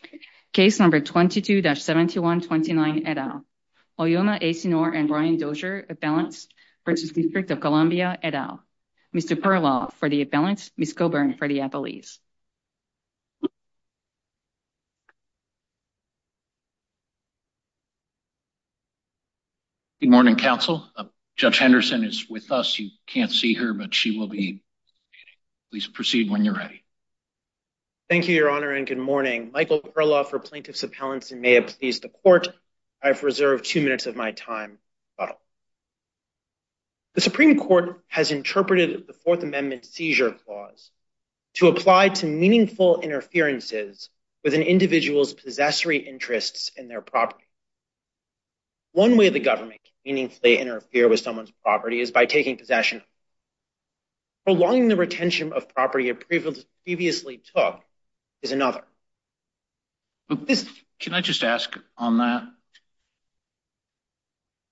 Columbia, et al. Case number 22-7129, et al. Oyoma Asinor and Brian Dozier, appellants v. District of Columbia, et al. Mr. Perlow for the appellants, Ms. Coburn for the appellees. Good morning, counsel. Judge Henderson is with us. You can't see her, but she will be. Please proceed when you're ready. Thank you, Your Honor, and good morning. Michael Perlow for plaintiffs' appellants and may it please the court, I have reserved two minutes of my time. The Supreme Court has interpreted the Fourth Amendment seizure clause to apply to meaningful interferences with an individual's possessory interests in their property. One way the government can meaningfully interfere with someone's property is by taking possession of it. Prolonging the retention of property it previously took is another. Can I just ask on that?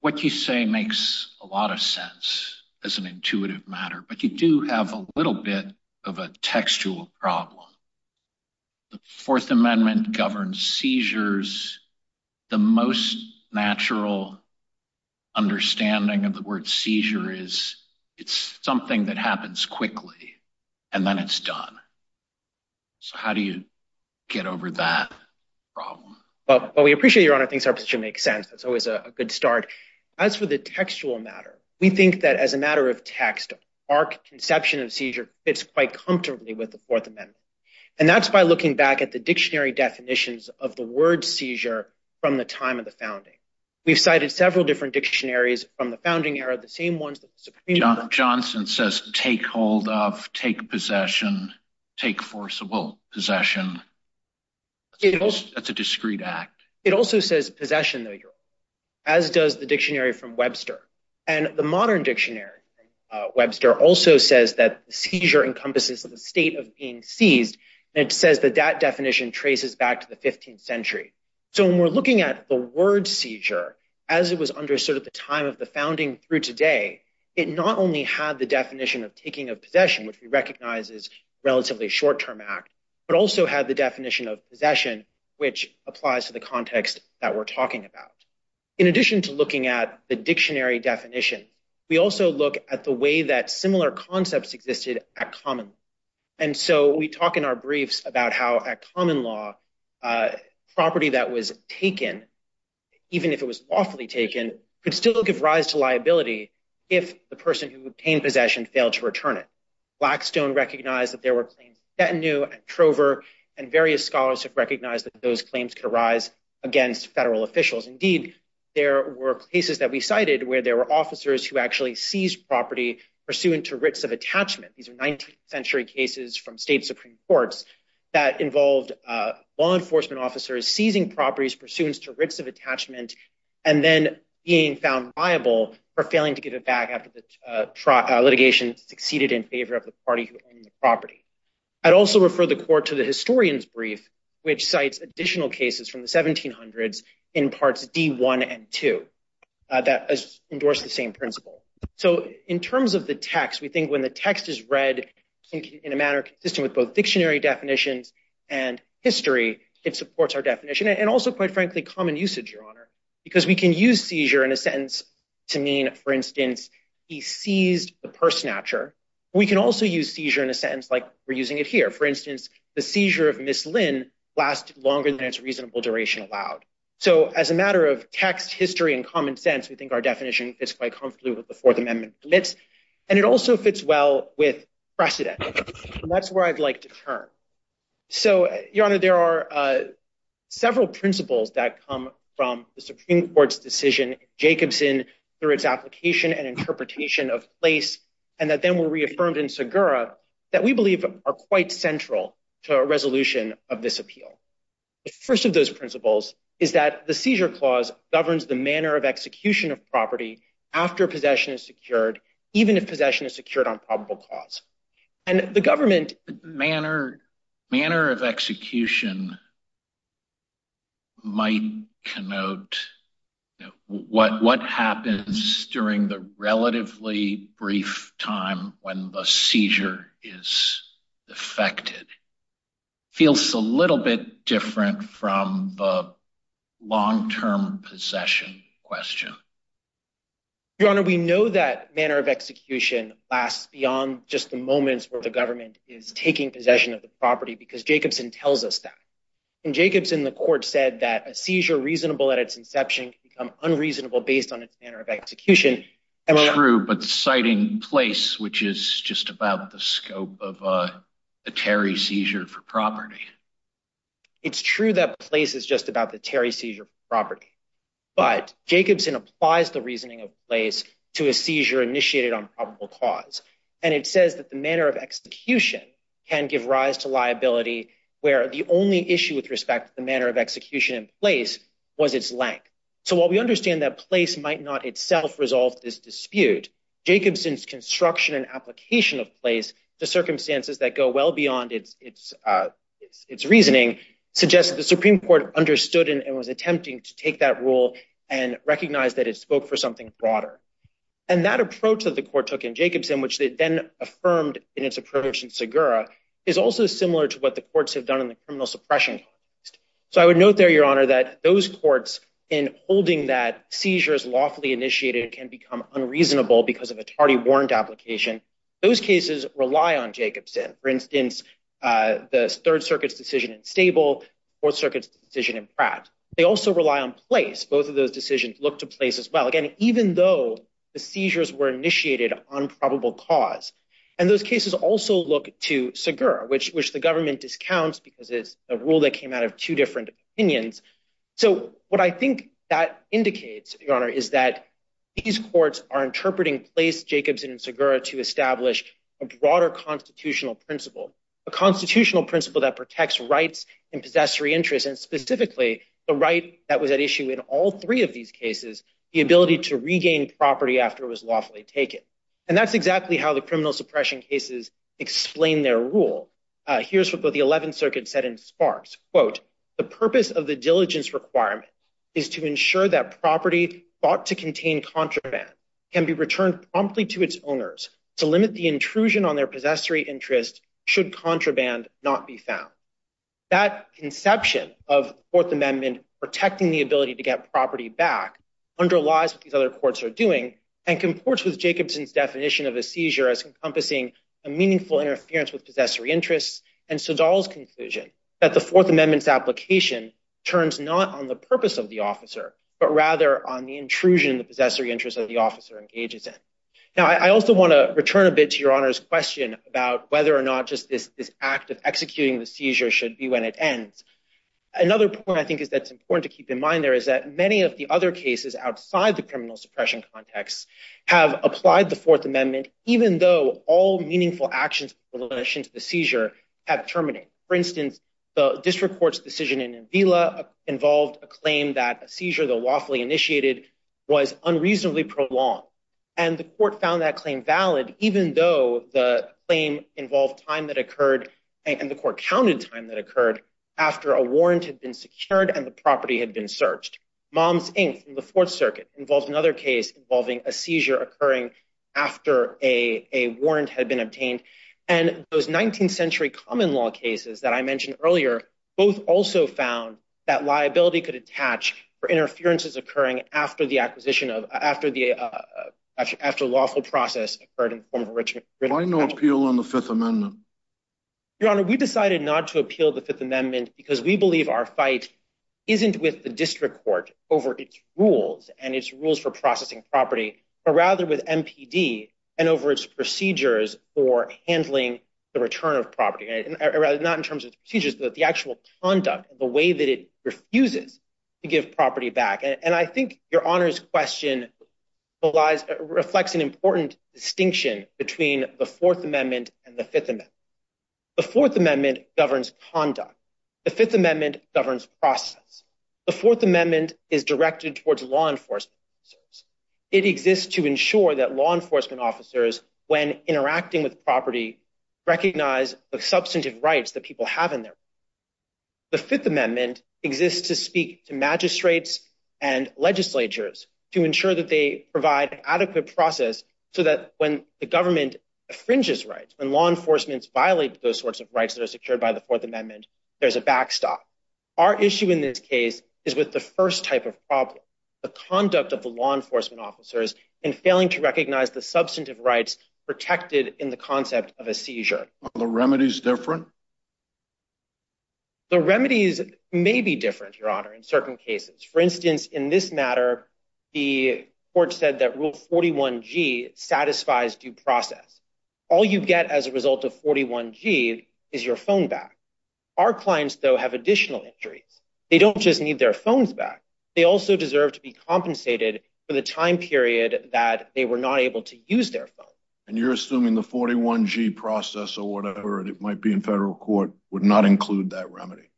What you say makes a lot of sense as an intuitive matter, but you do have a little bit of a textual problem. The Fourth Amendment governs seizures. The most natural understanding of the word seizure is it's something that happens quickly and then it's done. So how do you get over that problem? Well, we appreciate Your Honor thinks our position makes sense. That's always a good start. As for the textual matter, we think that as a matter of text, our conception of seizure fits quite comfortably with the Fourth Amendment. And that's by looking back at the dictionary definitions of the word seizure from the time of the founding. We've cited several different dictionaries from the founding era, the same ones that the Supreme Court- Johnson says take hold of, take possession, take forcible possession. That's a discreet act. It also says possession, as does the dictionary from Webster. And the modern dictionary, Webster, also says that seizure encompasses the state of being seized. And it says that that definition traces back to the 15th century. So when we're looking at the word seizure, as it was understood at the time of the founding through today, it not only had the definition of taking a possession, which we recognize is relatively short-term act, but also had the definition of possession, which applies to the context that we're talking about. In addition to looking at the dictionary definition, we also look at the way that we talk in our briefs about how, at common law, property that was taken, even if it was lawfully taken, could still give rise to liability if the person who obtained possession failed to return it. Blackstone recognized that there were claims in Chattanooga and Trover, and various scholars have recognized that those claims could arise against federal officials. Indeed, there were cases that we cited where there were officers who actually seized property pursuant to writs of attachment. These are 19th century cases from state Supreme Courts that involved law enforcement officers seizing properties pursuant to writs of attachment, and then being found liable for failing to give it back after the litigation succeeded in favor of the party who owned the property. I'd also refer the court to the historian's brief, which cites additional cases from the 1700s in parts D1 and 2 that endorse the same principle. So in terms of the text, we think when the text is read in a manner consistent with both dictionary definitions and history, it supports our definition. And also, quite frankly, common usage, Your Honor, because we can use seizure in a sentence to mean, for instance, he seized the purse snatcher. We can also use seizure in a sentence like we're using it here. For instance, the seizure of Miss Lynn lasted longer than its reasonable duration allowed. So as a matter of text, history, and common sense, we think our definition fits quite comfortably with the Fourth Amendment blitz. And it also fits well with precedent. That's where I'd like to turn. So, Your Honor, there are several principles that come from the Supreme Court's decision in Jacobson, through its application and interpretation of place, and that then were reaffirmed in Segura, that we believe are quite central to a resolution of this appeal. The first of those principles is that the seizure clause governs the manner of execution of property after possession is secured, even if possession is secured on probable cause. And the government... Manner of execution might connote what happens during the relatively brief time when the seizure is effected. Feels a little bit different from the long-term possession question. Your Honor, we know that manner of execution lasts beyond just the moments where the government is taking possession of the property because Jacobson tells us that. In Jacobson, the court said that a seizure reasonable at its inception can become unreasonable based on its manner of execution. True, but citing place, which is just about the scope of a Terry seizure for But Jacobson applies the reasoning of place to a seizure initiated on probable cause, and it says that the manner of execution can give rise to liability where the only issue with respect to the manner of execution in place was its length. So while we understand that place might not itself resolve this dispute, Jacobson's construction and application of place to circumstances that go well beyond its reasoning suggests that the Supreme Court understood and was attempting to take that rule and recognize that it spoke for something broader. And that approach that the court took in Jacobson, which they then affirmed in its approach in Segura, is also similar to what the courts have done in the criminal suppression case. So I would note there, Your Honor, that those courts in holding that seizures lawfully initiated can become unreasonable because of a tardy warrant application. Those cases rely on Jacobson. For instance, the Third Circuit's decision in Stable, Fourth Circuit's decision in Pratt. They also rely on place. Both of those decisions look to place as well, again, even though the seizures were initiated on probable cause. And those cases also look to Segura, which the government discounts because it's a rule that came out of two different opinions. So what I think that indicates, Your Honor, is that these courts are interpreting place Jacobson and Segura to establish a broader constitutional principle, a constitutional principle that protects rights and possessory interests, and specifically the right that was at issue in all three of these cases, the ability to regain property after it was lawfully taken. And that's exactly how the criminal suppression cases explain their rule. Here's what both the Eleventh Circuit said in Sparks, quote, the purpose of the diligence requirement is to ensure that property thought to contain contraband can be returned promptly to its owners to limit the intrusion on their possessory interest should contraband not be found. That conception of the Fourth Amendment protecting the ability to get property back underlies what these other courts are doing and comports with Jacobson's definition of a seizure as encompassing a meaningful interference with possessory interests and Segal's conclusion that the Fourth Amendment's application turns not on the purpose of the officer, but rather on the intrusion of the possessory interest of the whether or not just this act of executing the seizure should be when it ends. Another point I think is that it's important to keep in mind there is that many of the other cases outside the criminal suppression context have applied the Fourth Amendment even though all meaningful actions in relation to the seizure have terminated. For instance, the district court's decision in Avila involved a claim that a seizure, though lawfully initiated, was unreasonably prolonged. And the court found that claim valid even though the claim involved time that occurred and the court counted time that occurred after a warrant had been secured and the property had been searched. Moms Inc. in the Fourth Circuit involves another case involving a seizure occurring after a warrant had been obtained. And those 19th century common law cases that I mentioned earlier both also found that liability could attach for interferences occurring after the acquisition of after the after lawful process occurred in the form of enrichment. Why no appeal on the Fifth Amendment? Your Honor, we decided not to appeal the Fifth Amendment because we believe our fight isn't with the district court over its rules and its rules for processing property, but rather with MPD and over its procedures for handling the return of property. Not in terms of procedures, but the actual conduct, the way that it refuses to give property back. And I think Your Honor's question reflects an important distinction between the Fourth Amendment and the Fifth Amendment. The Fourth Amendment governs conduct. The Fifth Amendment governs process. The Fourth Amendment is directed towards law enforcement officers. It exists to ensure that law enforcement officers, when interacting with property, recognize the substantive rights that people have in their provide an adequate process so that when the government infringes rights, when law enforcements violate those sorts of rights that are secured by the Fourth Amendment, there's a backstop. Our issue in this case is with the first type of problem, the conduct of the law enforcement officers in failing to recognize the substantive rights protected in the concept of a seizure. Are the remedies different? The remedies may be different, Your Honor, in certain cases. For instance, in this matter, the court said that Rule 41g satisfies due process. All you get as a result of 41g is your phone back. Our clients, though, have additional injuries. They don't just need their phones back. They also deserve to be compensated for the time period that they were not able to use their phone. And you're assuming the 41g process or whatever it might be in federal court would not include that remedy?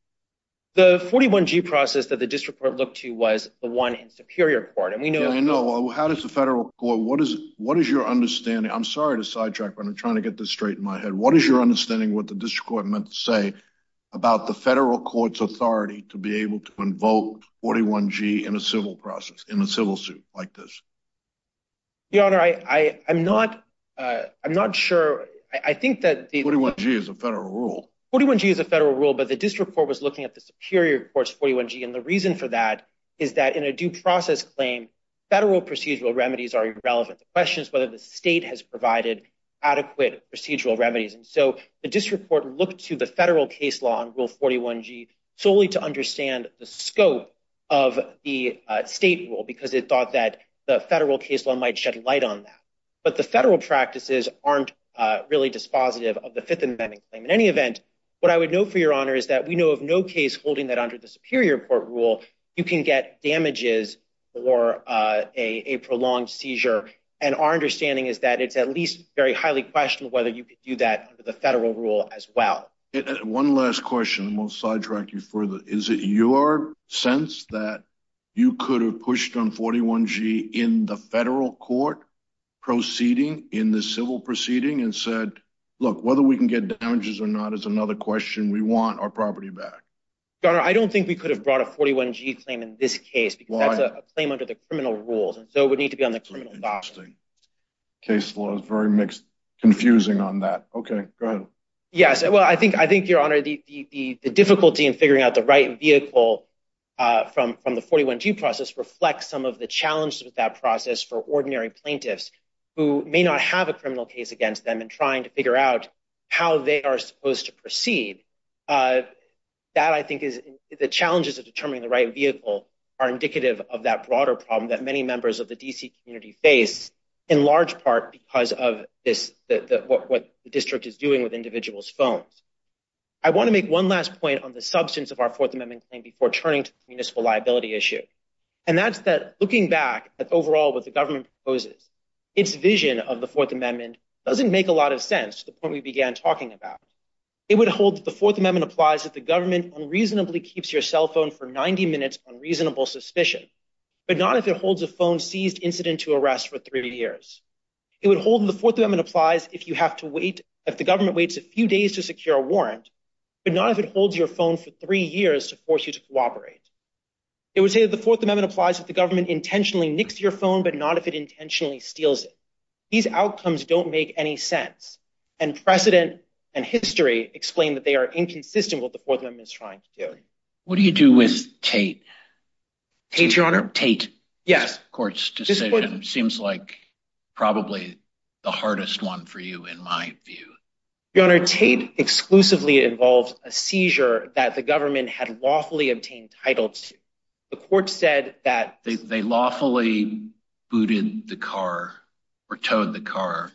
The 41g process that the district court looked to was the one in Superior Court. And we know how does the federal court? What is what is your understanding? I'm sorry to sidetrack, but I'm trying to get this straight in my head. What is your understanding what the district court meant to say about the federal court's authority to be able to invoke 41g in a civil process in a civil suit like this? Your Honor, I'm not I'm not sure. I think that 41g is a federal rule. 41g is a federal rule, but the district court was looking at the Superior Court's 41g. And the reason for that is that in a due process claim, federal procedural remedies are irrelevant. The question is whether the state has provided adequate procedural remedies. And so the district court looked to the federal case law on Rule 41g solely to understand the scope of the state rule because it thought that the federal case law shed light on that. But the federal practices aren't really dispositive of the Fifth Amendment claim. In any event, what I would know for your honor is that we know of no case holding that under the Superior Court rule you can get damages or a prolonged seizure. And our understanding is that it's at least very highly questionable whether you could do that under the federal rule as well. One last question. We'll sidetrack you further. Is it your sense that you could have pushed on 41g in the federal court proceeding in the civil proceeding and said, look, whether we can get damages or not is another question we want our property back? Your honor, I don't think we could have brought a 41g claim in this case because that's a claim under the criminal rules. And so it would need to be on the criminal docket. Case law is very confusing on that. Okay, go ahead. Yes. Well, I think your honor, the difficulty in figuring out the right vehicle from the 41g process reflects some of the challenges with that process for ordinary plaintiffs who may not have a criminal case against them and trying to figure out how they are supposed to proceed. That I think is the challenges of determining the right vehicle are indicative of that broader problem that many members of the D.C. community face, in large part because of what the district is doing with individuals' phones. I want to make one last point on the substance of our Fourth Amendment claim before turning to the municipal liability issue, and that's that looking back at overall what the government proposes, its vision of the Fourth Amendment doesn't make a lot of sense to the point we began talking about. It would hold that the Fourth Amendment applies if the government unreasonably keeps your cell phone for 90 minutes on reasonable suspicion, but not if it holds a phone seized incident to arrest for three years. It would hold that the Fourth Amendment applies if you have to wait, if the government waits a few days to secure a warrant, but not if it holds your phone for three years to force you to cooperate. It would say that the Fourth Amendment applies if the government intentionally nicks your phone, but not if it intentionally steals it. These outcomes don't make any sense, and precedent and history explain that they are inconsistent with what the Fourth Amendment is trying to do. What do you do with Tate? Tate, your honor? Tate. Yes. Court's decision seems like probably the hardest one for you, in my view. Your honor, Tate exclusively involved a seizure that the government had lawfully obtained title to. The court said that— They lawfully booted the car or towed the car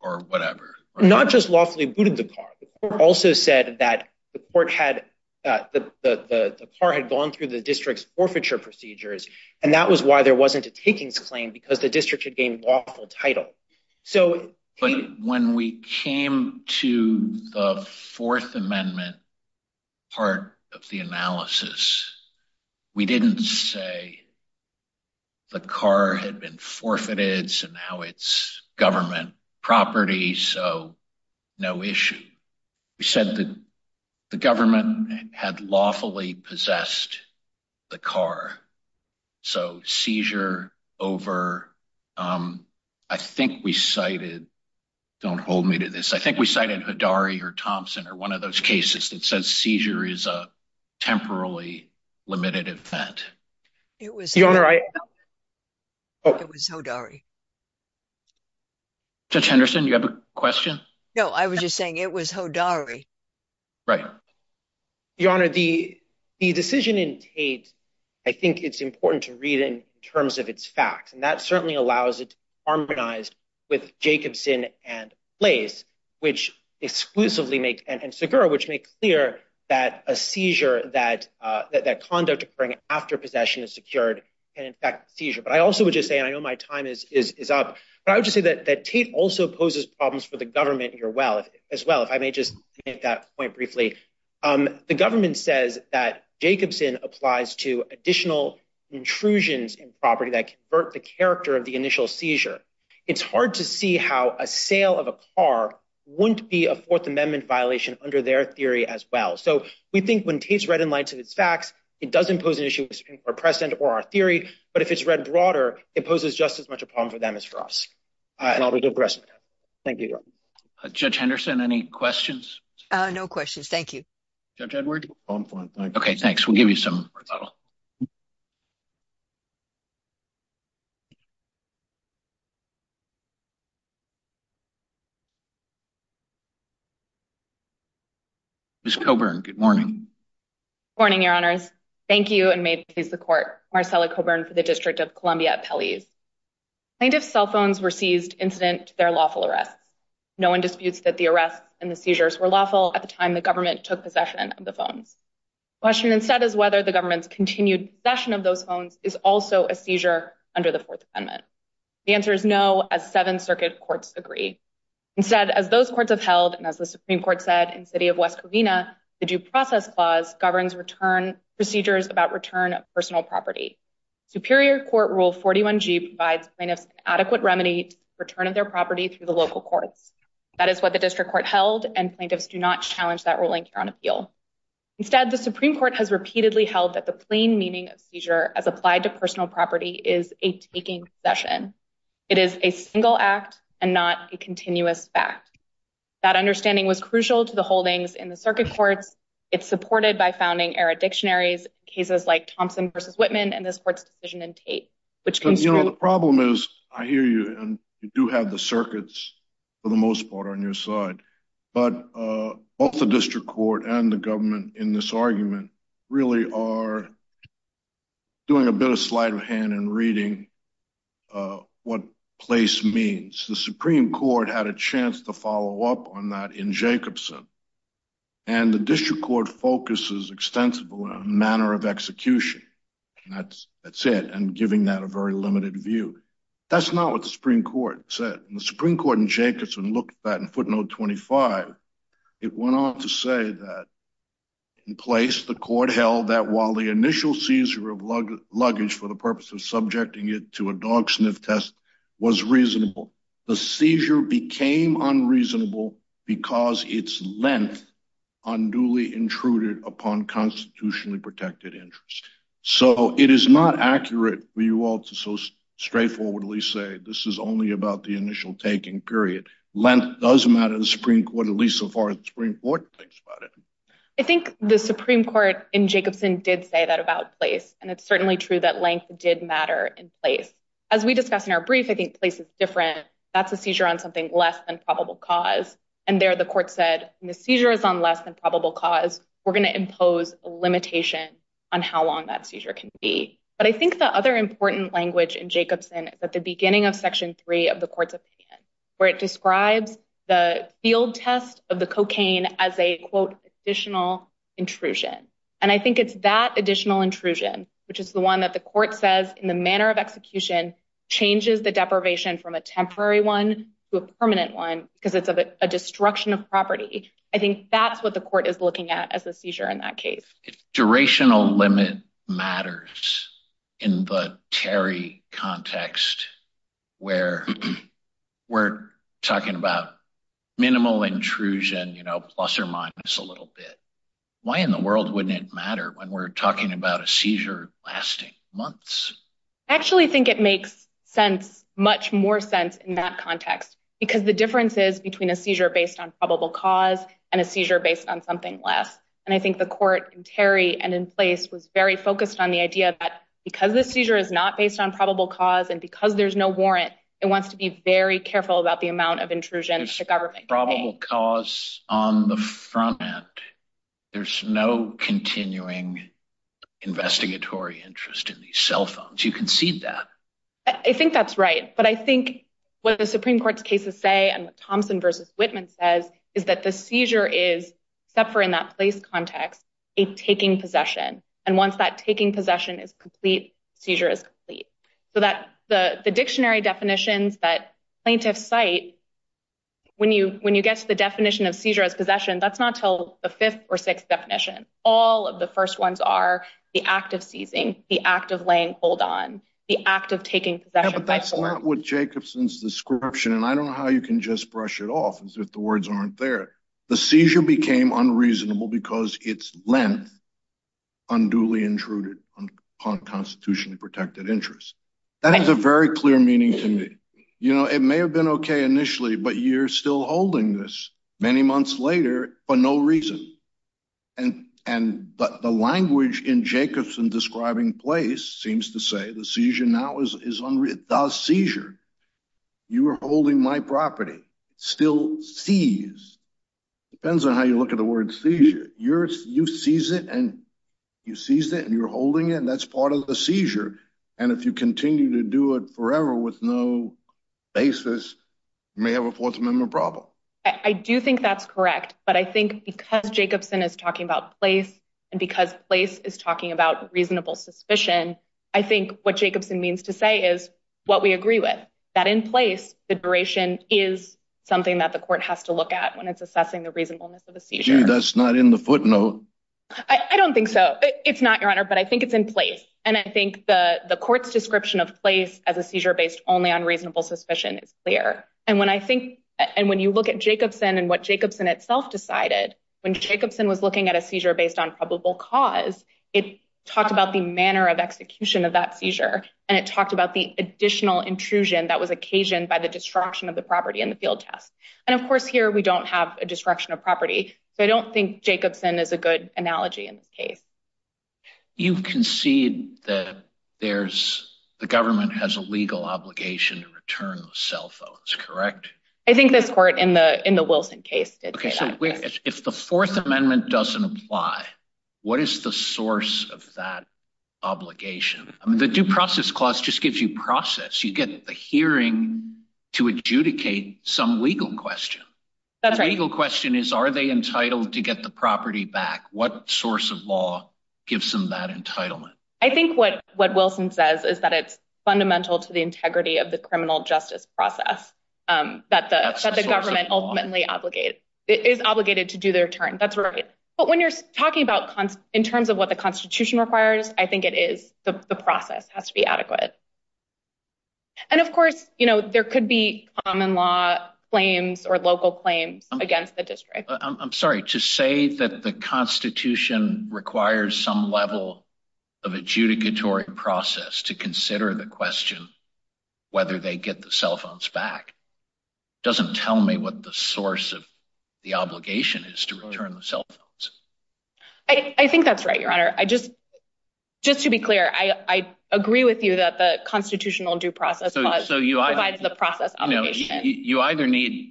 or whatever. Not just lawfully booted the car. The court also said that the court had—the car had gone through the district's forfeiture procedures, and that was why there wasn't a takings claim, because the district had gained lawful title. When we came to the Fourth Amendment part of the analysis, we didn't say the car had been forfeited and now it's government property, so no issue. We said that the government had lawfully possessed the car. So seizure over—I think we cited—don't hold me to this—I think we cited Hodari or Thompson or one of those cases that says seizure is a temporarily limited event. It was— Your honor, I— Oh. It was Hodari. Judge Henderson, you have a question? No, I was just saying it was Hodari. Right. Your honor, the decision in Tate, I think it's important to read it in terms of its facts, and that certainly allows it to be harmonized with Jacobson and Blase, which exclusively make—and Segura, which make clear that a seizure, that conduct occurring after possession is secured can infect the seizure. But I also would just say, and I know my time is up, but I would just say that Tate also poses problems for the government here as well, if I may just make that point briefly. The government says that Jacobson applies to additional intrusions in property that convert the character of the initial seizure. It's hard to see how a sale of a car wouldn't be a Fourth Amendment violation under their theory as well. So we think when Tate's read in light of its facts, it doesn't pose an issue with our precedent or our theory, but if it's read broader, it poses just as much a problem for them as for us. And I'll be doing the rest of my time. Thank you, your honor. Judge Henderson, any questions? No questions. Thank you. Judge Edward? Okay, thanks. We'll give you some more time. Ms. Coburn, good morning. Marcella Coburn for the District of Columbia at Pelley's. Plaintiffs' cell phones were seized incident to their lawful arrests. No one disputes that the arrests and the seizures were lawful at the time the government took possession of the phones. The question instead is whether the government's continued possession of those phones is also a seizure under the Fourth Amendment. The answer is no, as seven circuit courts agree. Instead, as those courts have held, and as the Supreme Court said in City of West Covina, the Due Process Clause governs procedures about return of personal property. Superior Court Rule 41G provides plaintiffs an adequate remedy to return of their property through the local courts. That is what the District Court held, and plaintiffs do not challenge that ruling here on appeal. Instead, the Supreme Court has repeatedly held that the plain meaning of seizure as applied to personal property is a taking possession. It is a single act and not a continuous fact. That understanding was crucial to the holdings in the circuit courts. It's supported by founding-era dictionaries, cases like Thompson v. Whitman, and this court's decision in Tate, which construed— You know, the problem is, I hear you, and you do have the circuits, for the most part, on your side, but both the District Court and the government in this argument really are doing a bit of sleight of hand in reading what place means. The Supreme Court had a chance to follow up on that in Jacobson, and the District Court focuses extensively on a manner of execution, and that's it, and giving that a very limited view. That's not what the Supreme Court said. The Supreme Court in Jacobson looked at that in footnote 25. It went on to say that, in place, the court held that while the initial seizure of luggage for the purpose of subjecting it to a dog sniff test was reasonable, the seizure became unreasonable because its length unduly intruded upon constitutionally protected interests. So, it is not accurate for you all to so straightforwardly say, this is only about the initial taking, period. Length does matter in the Supreme Court, at least so far as the Supreme Court thinks about it. I think the Supreme Court in Jacobson did say that about place, and it's certainly true that matter in place. As we discussed in our brief, I think place is different. That's a seizure on something less than probable cause, and there the court said, the seizure is on less than probable cause. We're going to impose a limitation on how long that seizure can be. But I think the other important language in Jacobson is at the beginning of section three of the court's opinion, where it describes the field test of the cocaine as a, quote, additional intrusion, and I think it's that additional intrusion, which is the one that court says, in the manner of execution, changes the deprivation from a temporary one to a permanent one, because it's a destruction of property. I think that's what the court is looking at as a seizure in that case. Durational limit matters in the Terry context, where we're talking about minimal intrusion, plus or minus a little bit. Why in the world wouldn't it matter when we're talking about a seizure lasting months? I actually think it makes sense, much more sense in that context, because the difference is between a seizure based on probable cause and a seizure based on something less, and I think the court in Terry and in place was very focused on the idea that because the seizure is not based on probable cause and because there's no warrant, it wants to be very careful about the amount of intrusion the probable cause on the front end, there's no continuing investigatory interest in these cell phones. You can see that. I think that's right, but I think what the Supreme Court's cases say and what Thompson v. Whitman says is that the seizure is, except for in that place context, a taking possession, and once that taking possession is complete, the seizure is complete. So that the dictionary definitions that plaintiffs cite, when you get to the definition of seizure as possession, that's not until the fifth or sixth definition. All of the first ones are the act of seizing, the act of laying hold on, the act of taking possession. Yeah, but that's not what Jacobson's description, and I don't know how you can just brush it off as if the words aren't there. The seizure became unreasonable because its length unduly intruded on constitutionally interest. That has a very clear meaning to me. You know, it may have been okay initially, but you're still holding this many months later for no reason. And the language in Jacobson's describing place seems to say the seizure now is unreal. The seizure, you were holding my property, still seized. Depends on how you look at the word seizure. You seized it and you seized it and if you continue to do it forever with no basis, you may have a fourth amendment problem. I do think that's correct, but I think because Jacobson is talking about place, and because place is talking about reasonable suspicion, I think what Jacobson means to say is what we agree with. That in place, the duration is something that the court has to look at when it's assessing the reasonableness of a seizure. That's not in the footnote. I don't think so. It's not, as a seizure based only on reasonable suspicion is clear. And when you look at Jacobson and what Jacobson itself decided, when Jacobson was looking at a seizure based on probable cause, it talked about the manner of execution of that seizure and it talked about the additional intrusion that was occasioned by the destruction of the property in the field test. And of course here we don't have a destruction of property, so I don't think Jacobson is a good analogy in this case. You concede that there's, the government has a legal obligation to return the cell phones, correct? I think this court in the Wilson case did say that. Okay, so if the fourth amendment doesn't apply, what is the source of that obligation? I mean, the due process clause just gives you process. You get the hearing to adjudicate some legal question. The legal question is, are they entitled to get the property back? What source of law gives them that entitlement? I think what Wilson says is that it's fundamental to the integrity of the criminal justice process that the government ultimately obligate is obligated to do their turn. That's right. But when you're talking about in terms of what the constitution requires, I think it is the process has to be adequate. And of course, you know, there could be common law claims or local claims against the district. I'm sorry to say that the constitution requires some level of adjudicatory process to consider the question, whether they get the cell phones back, doesn't tell me what the source of the obligation is to return the cell phones. I think that's right, your honor. I just, just to be clear, I agree with you that the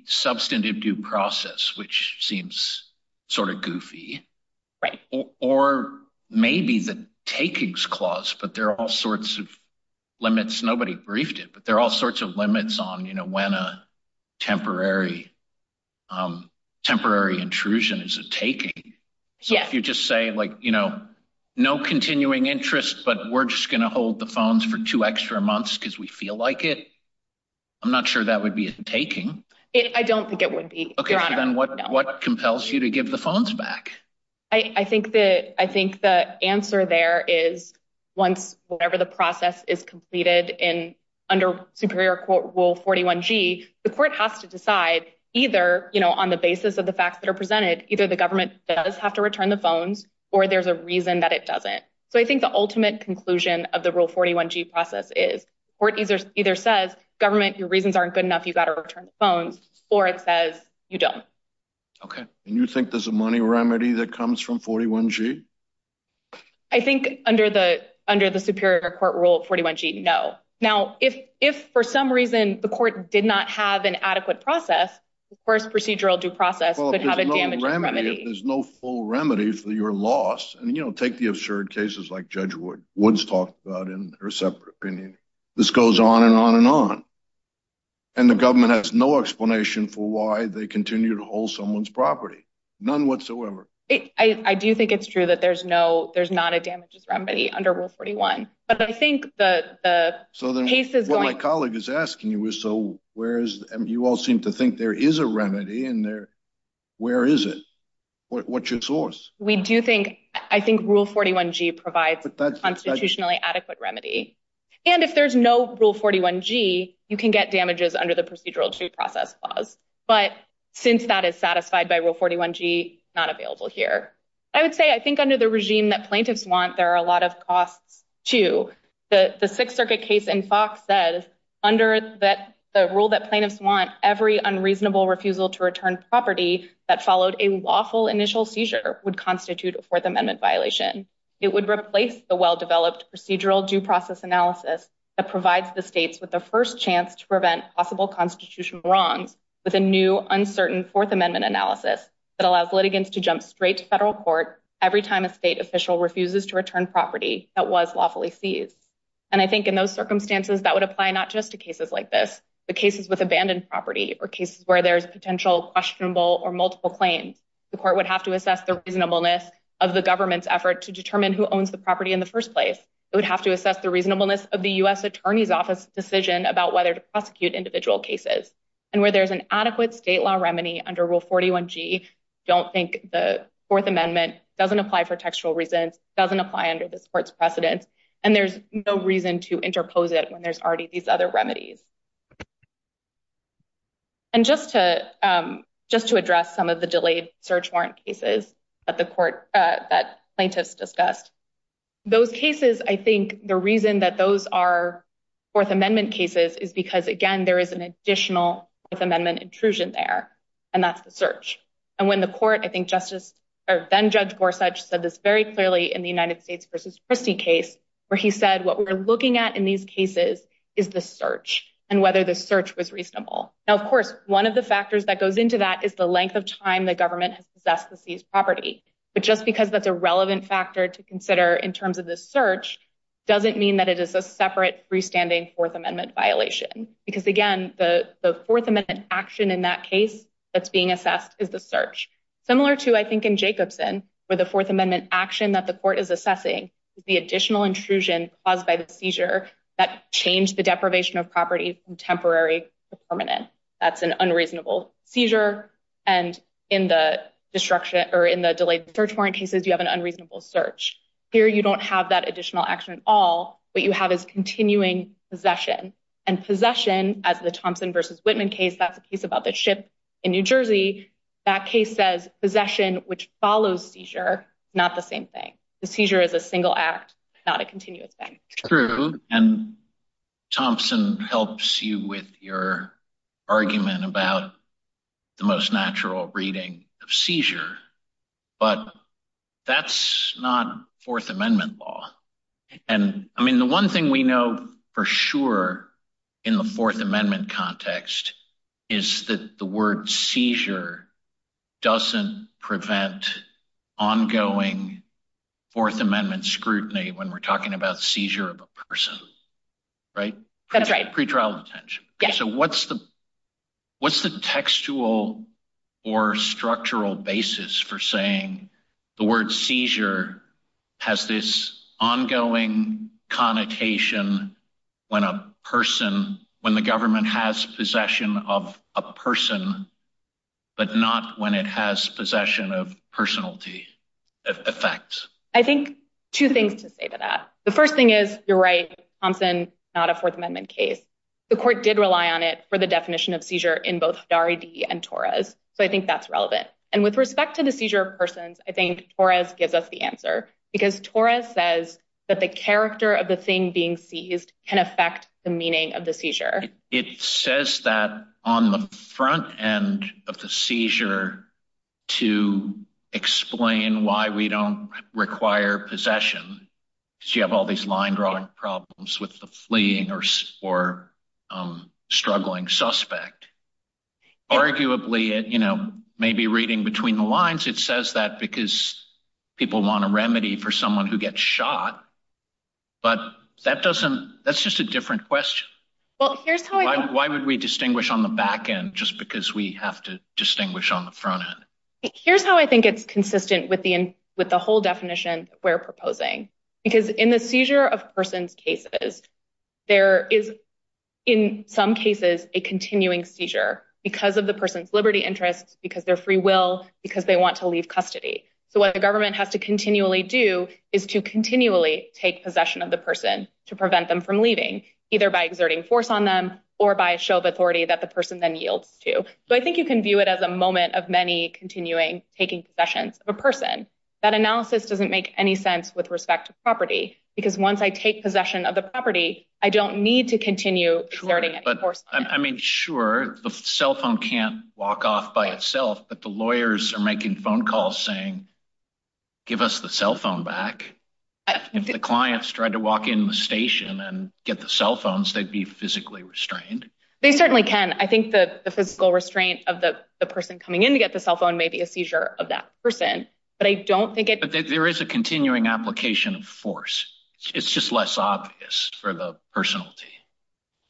substantive due process, which seems sort of goofy or maybe the takings clause, but there are all sorts of limits. Nobody briefed it, but there are all sorts of limits on, you know, when a temporary, temporary intrusion is a taking. So if you just say like, you know, no continuing interest, but we're just going to hold the phones for two extra months because we feel like it. I'm not sure that would be a taking. I don't think it would be. Okay. Then what, what compels you to give the phones back? I think that, I think the answer there is once, whatever the process is completed in under superior quote rule 41 G the court has to decide either, you know, on the basis of the facts that are presented, either the government does have to return the phones or there's a reason that it doesn't. So I think the ultimate conclusion of rule 41 G process is court either either says government, your reasons aren't good enough. You've got to return the phones or it says you don't. Okay. And you think there's a money remedy that comes from 41 G? I think under the, under the superior court rule 41 G no. Now if, if for some reason the court did not have an adequate process, of course, procedural due process could have a damaging remedy. There's no full remedy for your loss. And, you know, take the absurd cases like judge Wood, Woods talked about in her separate opinion. This goes on and on and on. And the government has no explanation for why they continue to hold someone's property. None whatsoever. I do think it's true that there's no, there's not a damages remedy under rule 41, but I think the, the case is what my colleague is asking you is so, whereas you all seem to think there is a remedy in there. Where is it? What's your source? We do think, I think rule 41 G provides constitutionally adequate remedy. And if there's no rule 41 G, you can get damages under the procedural due process clause. But since that is satisfied by rule 41 G not available here, I would say, I think under the regime that plaintiffs want, there are a lot of costs to the sixth circuit case in Fox says under that the rule that plaintiffs want every unreasonable refusal to return property that followed a lawful initial seizure would constitute a fourth amendment violation. It would replace the well-developed procedural due process analysis that provides the states with the first chance to prevent possible constitutional wrongs with a new uncertain fourth amendment analysis that allows litigants to jump straight to federal court. Every time a state official refuses to return property that was lawfully seized. And I think in those circumstances that would apply, not just to cases like this, but cases with abandoned property or cases where there's potential questionable or multiple claims, the court would have to assess the reasonableness of the government's effort to determine who owns the property in the first place. It would have to assess the reasonableness of the U.S. attorney's office decision about whether to prosecute individual cases and where there's an adequate state law remedy under rule 41 G don't think the fourth amendment doesn't apply for textual reasons doesn't apply under this court's precedents. And there's no reason to interpose it when there's these other remedies. And just to address some of the delayed search warrant cases that the court that plaintiffs discussed, those cases, I think the reason that those are fourth amendment cases is because again, there is an additional amendment intrusion there. And that's the search. And when the court, I think justice or then judge Gorsuch said this very clearly in the United States versus Christie case, where he said, what we're looking at in these cases is the search and whether the search was reasonable. Now, of course, one of the factors that goes into that is the length of time the government has possessed the seized property. But just because that's a relevant factor to consider in terms of the search doesn't mean that it is a separate freestanding fourth amendment violation, because again, the fourth amendment action in that case that's being assessed is the search similar to, I think in Jacobson, where the fourth amendment action that the court is assessing is the additional intrusion caused by seizure that changed the deprivation of property from temporary to permanent. That's an unreasonable seizure. And in the destruction or in the delayed search warrant cases, you have an unreasonable search here. You don't have that additional action at all. What you have is continuing possession and possession as the Thompson versus Whitman case. That's a case about the ship in New Jersey. That case says possession, which follows seizure, not the same thing. The seizure is a single act, not a continuous thing. True. And Thompson helps you with your argument about the most natural reading of seizure. But that's not fourth amendment law. And I mean, the one thing we know for sure in the fourth amendment context is that the word seizure doesn't prevent ongoing fourth amendment scrutiny when we're talking about seizure of a person, right? That's right. Pretrial detention. So what's the, what's the textual or structural basis for saying the word seizure has this ongoing connotation when a person, when the government has possession of a person, but not when it has possession of personality effects? I think two things to say to that. The first thing is you're right, Thompson, not a fourth amendment case. The court did rely on it for the definition of seizure in both Dari D and Torres. So I think that's relevant. And with respect to the seizure of persons, I think Torres gives us the answer because Torres says that the character of the thing being seized can affect the meaning of seizure. It says that on the front end of the seizure to explain why we don't require possession because you have all these line drawing problems with the fleeing or struggling suspect. Arguably, you know, maybe reading between the lines, it says that because people want a remedy for someone who Why would we distinguish on the back end? Just because we have to distinguish on the front end. Here's how I think it's consistent with the, with the whole definition we're proposing, because in the seizure of persons cases, there is in some cases, a continuing seizure because of the person's Liberty interests because they're free will, because they want to leave custody. So what the government has to continually do is to continually take possession of the person to prevent them from leaving either by exerting force on them or by a show of authority that the person then yields to. So I think you can view it as a moment of many continuing taking possessions of a person. That analysis doesn't make any sense with respect to property, because once I take possession of the property, I don't need to continue exerting force. I mean, sure, the cell phone can't walk off by itself, but the lawyers are making phone calls saying, give us the cell back. If the clients tried to walk in the station and get the cell phones, they'd be physically restrained. They certainly can. I think the physical restraint of the person coming in to get the cell phone may be a seizure of that person, but I don't think there is a continuing application of force. It's just less obvious for the personality.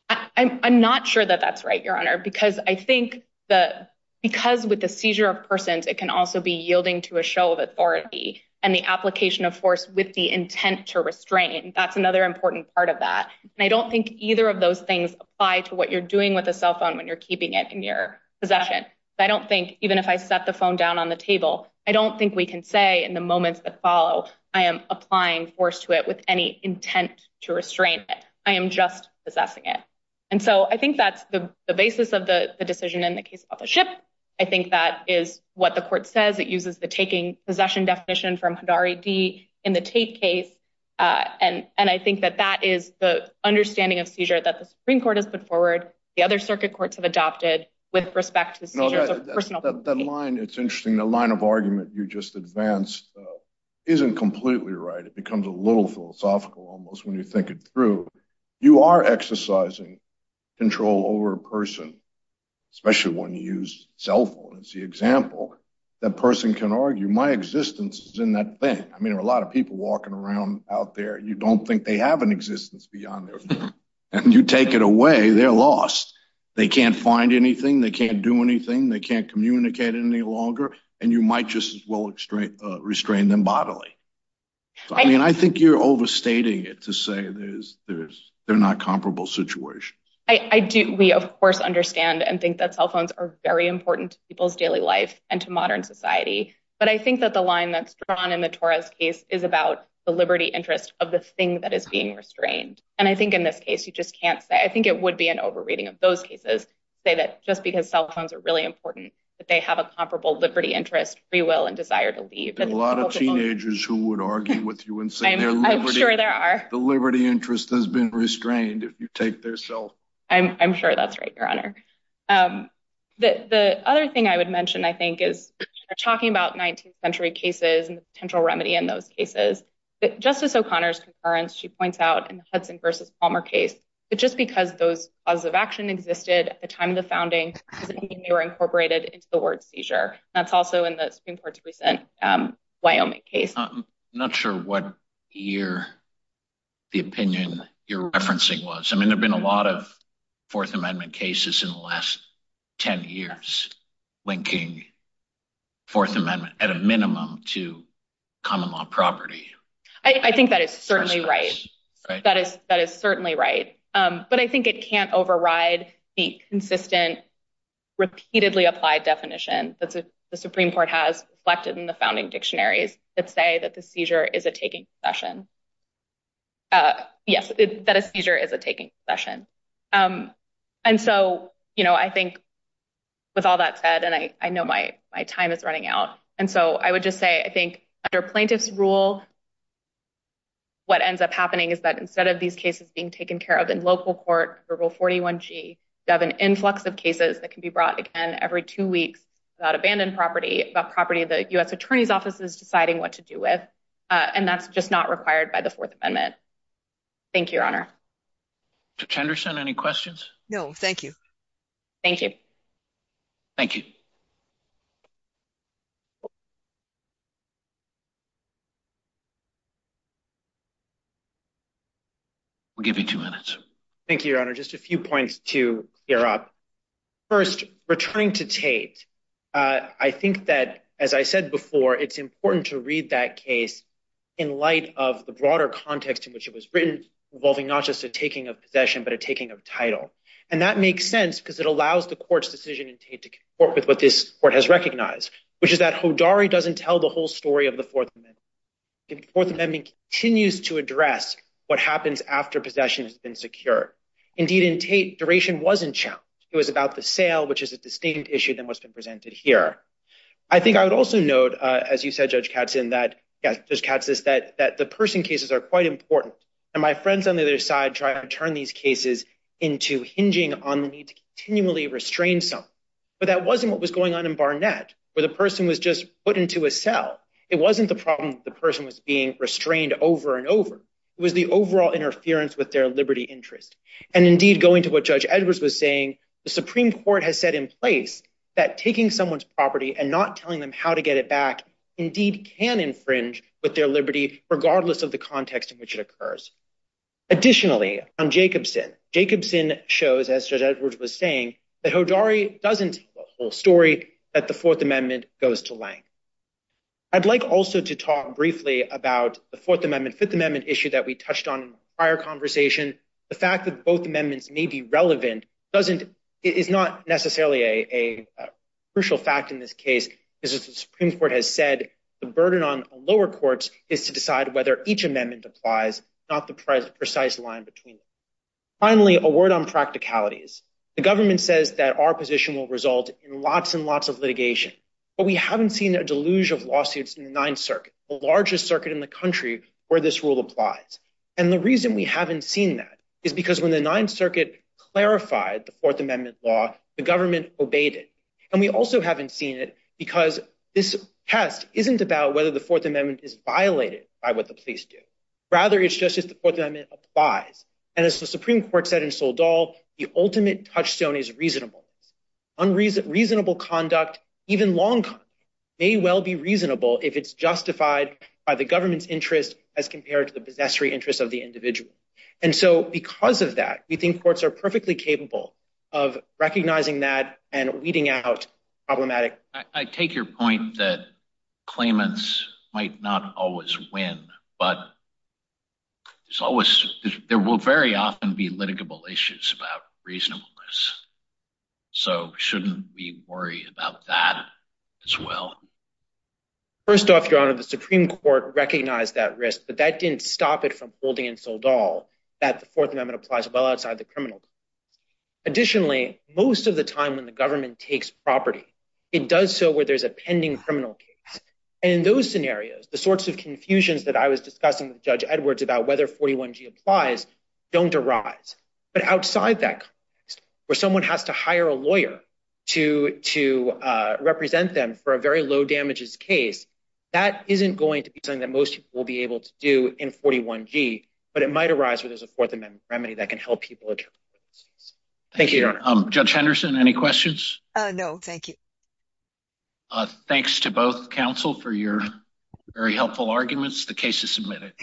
I'm not sure that that's right, your honor, because I think that because with the seizure of persons, it can also be yielding to a authority and the application of force with the intent to restrain. That's another important part of that. And I don't think either of those things apply to what you're doing with a cell phone when you're keeping it in your possession. I don't think even if I set the phone down on the table, I don't think we can say in the moments that follow, I am applying force to it with any intent to restrain it. I am just possessing it. And so I think that's the basis of the decision in the case of the ship. I think that is what the court says. It uses the taking possession definition from Hidari D in the Tate case. And I think that that is the understanding of seizure that the Supreme Court has put forward. The other circuit courts have adopted with respect to the seizures of personal property. No, that line, it's interesting. The line of argument you just advanced isn't completely right. It becomes a little philosophical almost when you think it through. You are exercising control over a person, especially when you use cell phones. The example that person can argue, my existence is in that thing. I mean, there are a lot of people walking around out there. You don't think they have an existence beyond there. And you take it away, they're lost. They can't find anything. They can't do anything. They can't communicate any longer. And you might just as well restrain them bodily. I mean, I think you're overstating it to say they're not comparable situations. We of course understand and think that cell phones are very important to people's daily life and to modern society. But I think that the line that's drawn in the Torres case is about the liberty interest of the thing that is being restrained. And I think in this case, you just can't say, I think it would be an overreading of those cases say that just because cell phones are really important, that they have a comparable liberty interest, free will and desire to leave. And a lot of teenagers who would argue with you I'm sure there are. The liberty interest has been restrained if you take their cell. I'm sure that's right, Your Honor. The other thing I would mention, I think, is talking about 19th century cases and the potential remedy in those cases. Justice O'Connor's concurrence, she points out in the Hudson versus Palmer case, that just because those laws of action existed at the time of the founding doesn't mean they were incorporated into the word seizure. That's also in the Supreme Court case. I'm not sure what year the opinion you're referencing was. I mean, there've been a lot of Fourth Amendment cases in the last 10 years linking Fourth Amendment at a minimum to common law property. I think that is certainly right. That is certainly right. But I think it can't override the consistent, repeatedly applied definition that the Supreme Court has reflected in the founding dictionaries that say that the seizure is a taking session. Yes, that a seizure is a taking session. And so, you know, I think with all that said, and I know my time is running out. And so I would just say, I think under plaintiff's rule, what ends up happening is that instead of these cases being taken care of in local court, Article 41G, you have an influx of cases that can be brought again every two weeks about abandoned property, about property the U.S. Attorney's Office is deciding what to do with. And that's just not required by the Fourth Amendment. Thank you, Your Honor. Mr. Chenderson, any questions? No, thank you. Thank you. Thank you. We'll give you two minutes. Thank you, Your Honor. Just a few points to clear up. First, returning to Tate, I think that, as I said before, it's important to read that case in light of the broader context in which it was written involving not just a taking of possession, but a taking of title. And that makes sense because it allows the court's decision in Tate to comport with what this court has recognized, which is that Hodari doesn't tell the whole story of the Fourth Amendment. The Fourth Amendment continues to address what happens after possession has been secure. Indeed, in Tate, duration wasn't challenged. It was about the sale, which is a distinct issue than what's been presented here. I think I would also note, as you said, Judge Katzin, that the person cases are quite important. And my friends on the other side try to turn these cases into hinging on the need to continually restrain something. But that wasn't what was going on in Barnett, where the person was just put into a cell. It wasn't the problem the person was being restrained over and over. It was the overall interference with their liberty interest. And indeed, going to what Judge Edwards was saying, the Supreme Court has set in place that taking someone's property and not telling them how to get it back indeed can infringe with their liberty, regardless of the context in which it occurs. Additionally, on Jacobson, Jacobson as Judge Edwards was saying, that Hodari doesn't tell the whole story that the Fourth Amendment goes to length. I'd like also to talk briefly about the Fourth Amendment, Fifth Amendment issue that we touched on in the prior conversation. The fact that both amendments may be relevant is not necessarily a crucial fact in this case, because as the Supreme Court has said, the burden on lower courts is to decide whether each amendment applies, not the precise line between them. Finally, a word on practicalities. The government says that our position will result in lots and lots of litigation, but we haven't seen a deluge of lawsuits in the Ninth Circuit, the largest circuit in the country where this rule applies. And the reason we haven't seen that is because when the Ninth Circuit clarified the Fourth Amendment law, the government obeyed it. And we also haven't seen it because this test isn't about whether the Fourth Amendment is violated by the police. Rather, it's just that the Fourth Amendment applies. And as the Supreme Court said in Soledad, the ultimate touchstone is reasonable. Unreasonable conduct, even long conduct, may well be reasonable if it's justified by the government's interest as compared to the possessory interest of the individual. And so because of that, we think courts are perfectly capable of recognizing that and weeding out problematic... I take your point that claimants might not always win, but there will very often be litigable issues about reasonableness. So shouldn't we worry about that as well? First off, Your Honor, the Supreme Court recognized that risk, but that didn't stop it from holding in Soledad that the Fourth Amendment applies well outside the criminal court. Additionally, most of the time when the government takes property, it does so where there's a pending criminal case. And in those scenarios, the sorts of confusions that I was discussing with Judge Edwards about whether 41G applies don't arise. But outside that context, where someone has to hire a lawyer to represent them for a very low damages case, that isn't going to be something that most people will be able to do in 41G, but it might arise where there's a Fourth Amendment remedy that can help people. Thank you, Your Honor. Judge Henderson, any questions? No, thank you. Thanks to both counsel for your very helpful arguments. The case is submitted.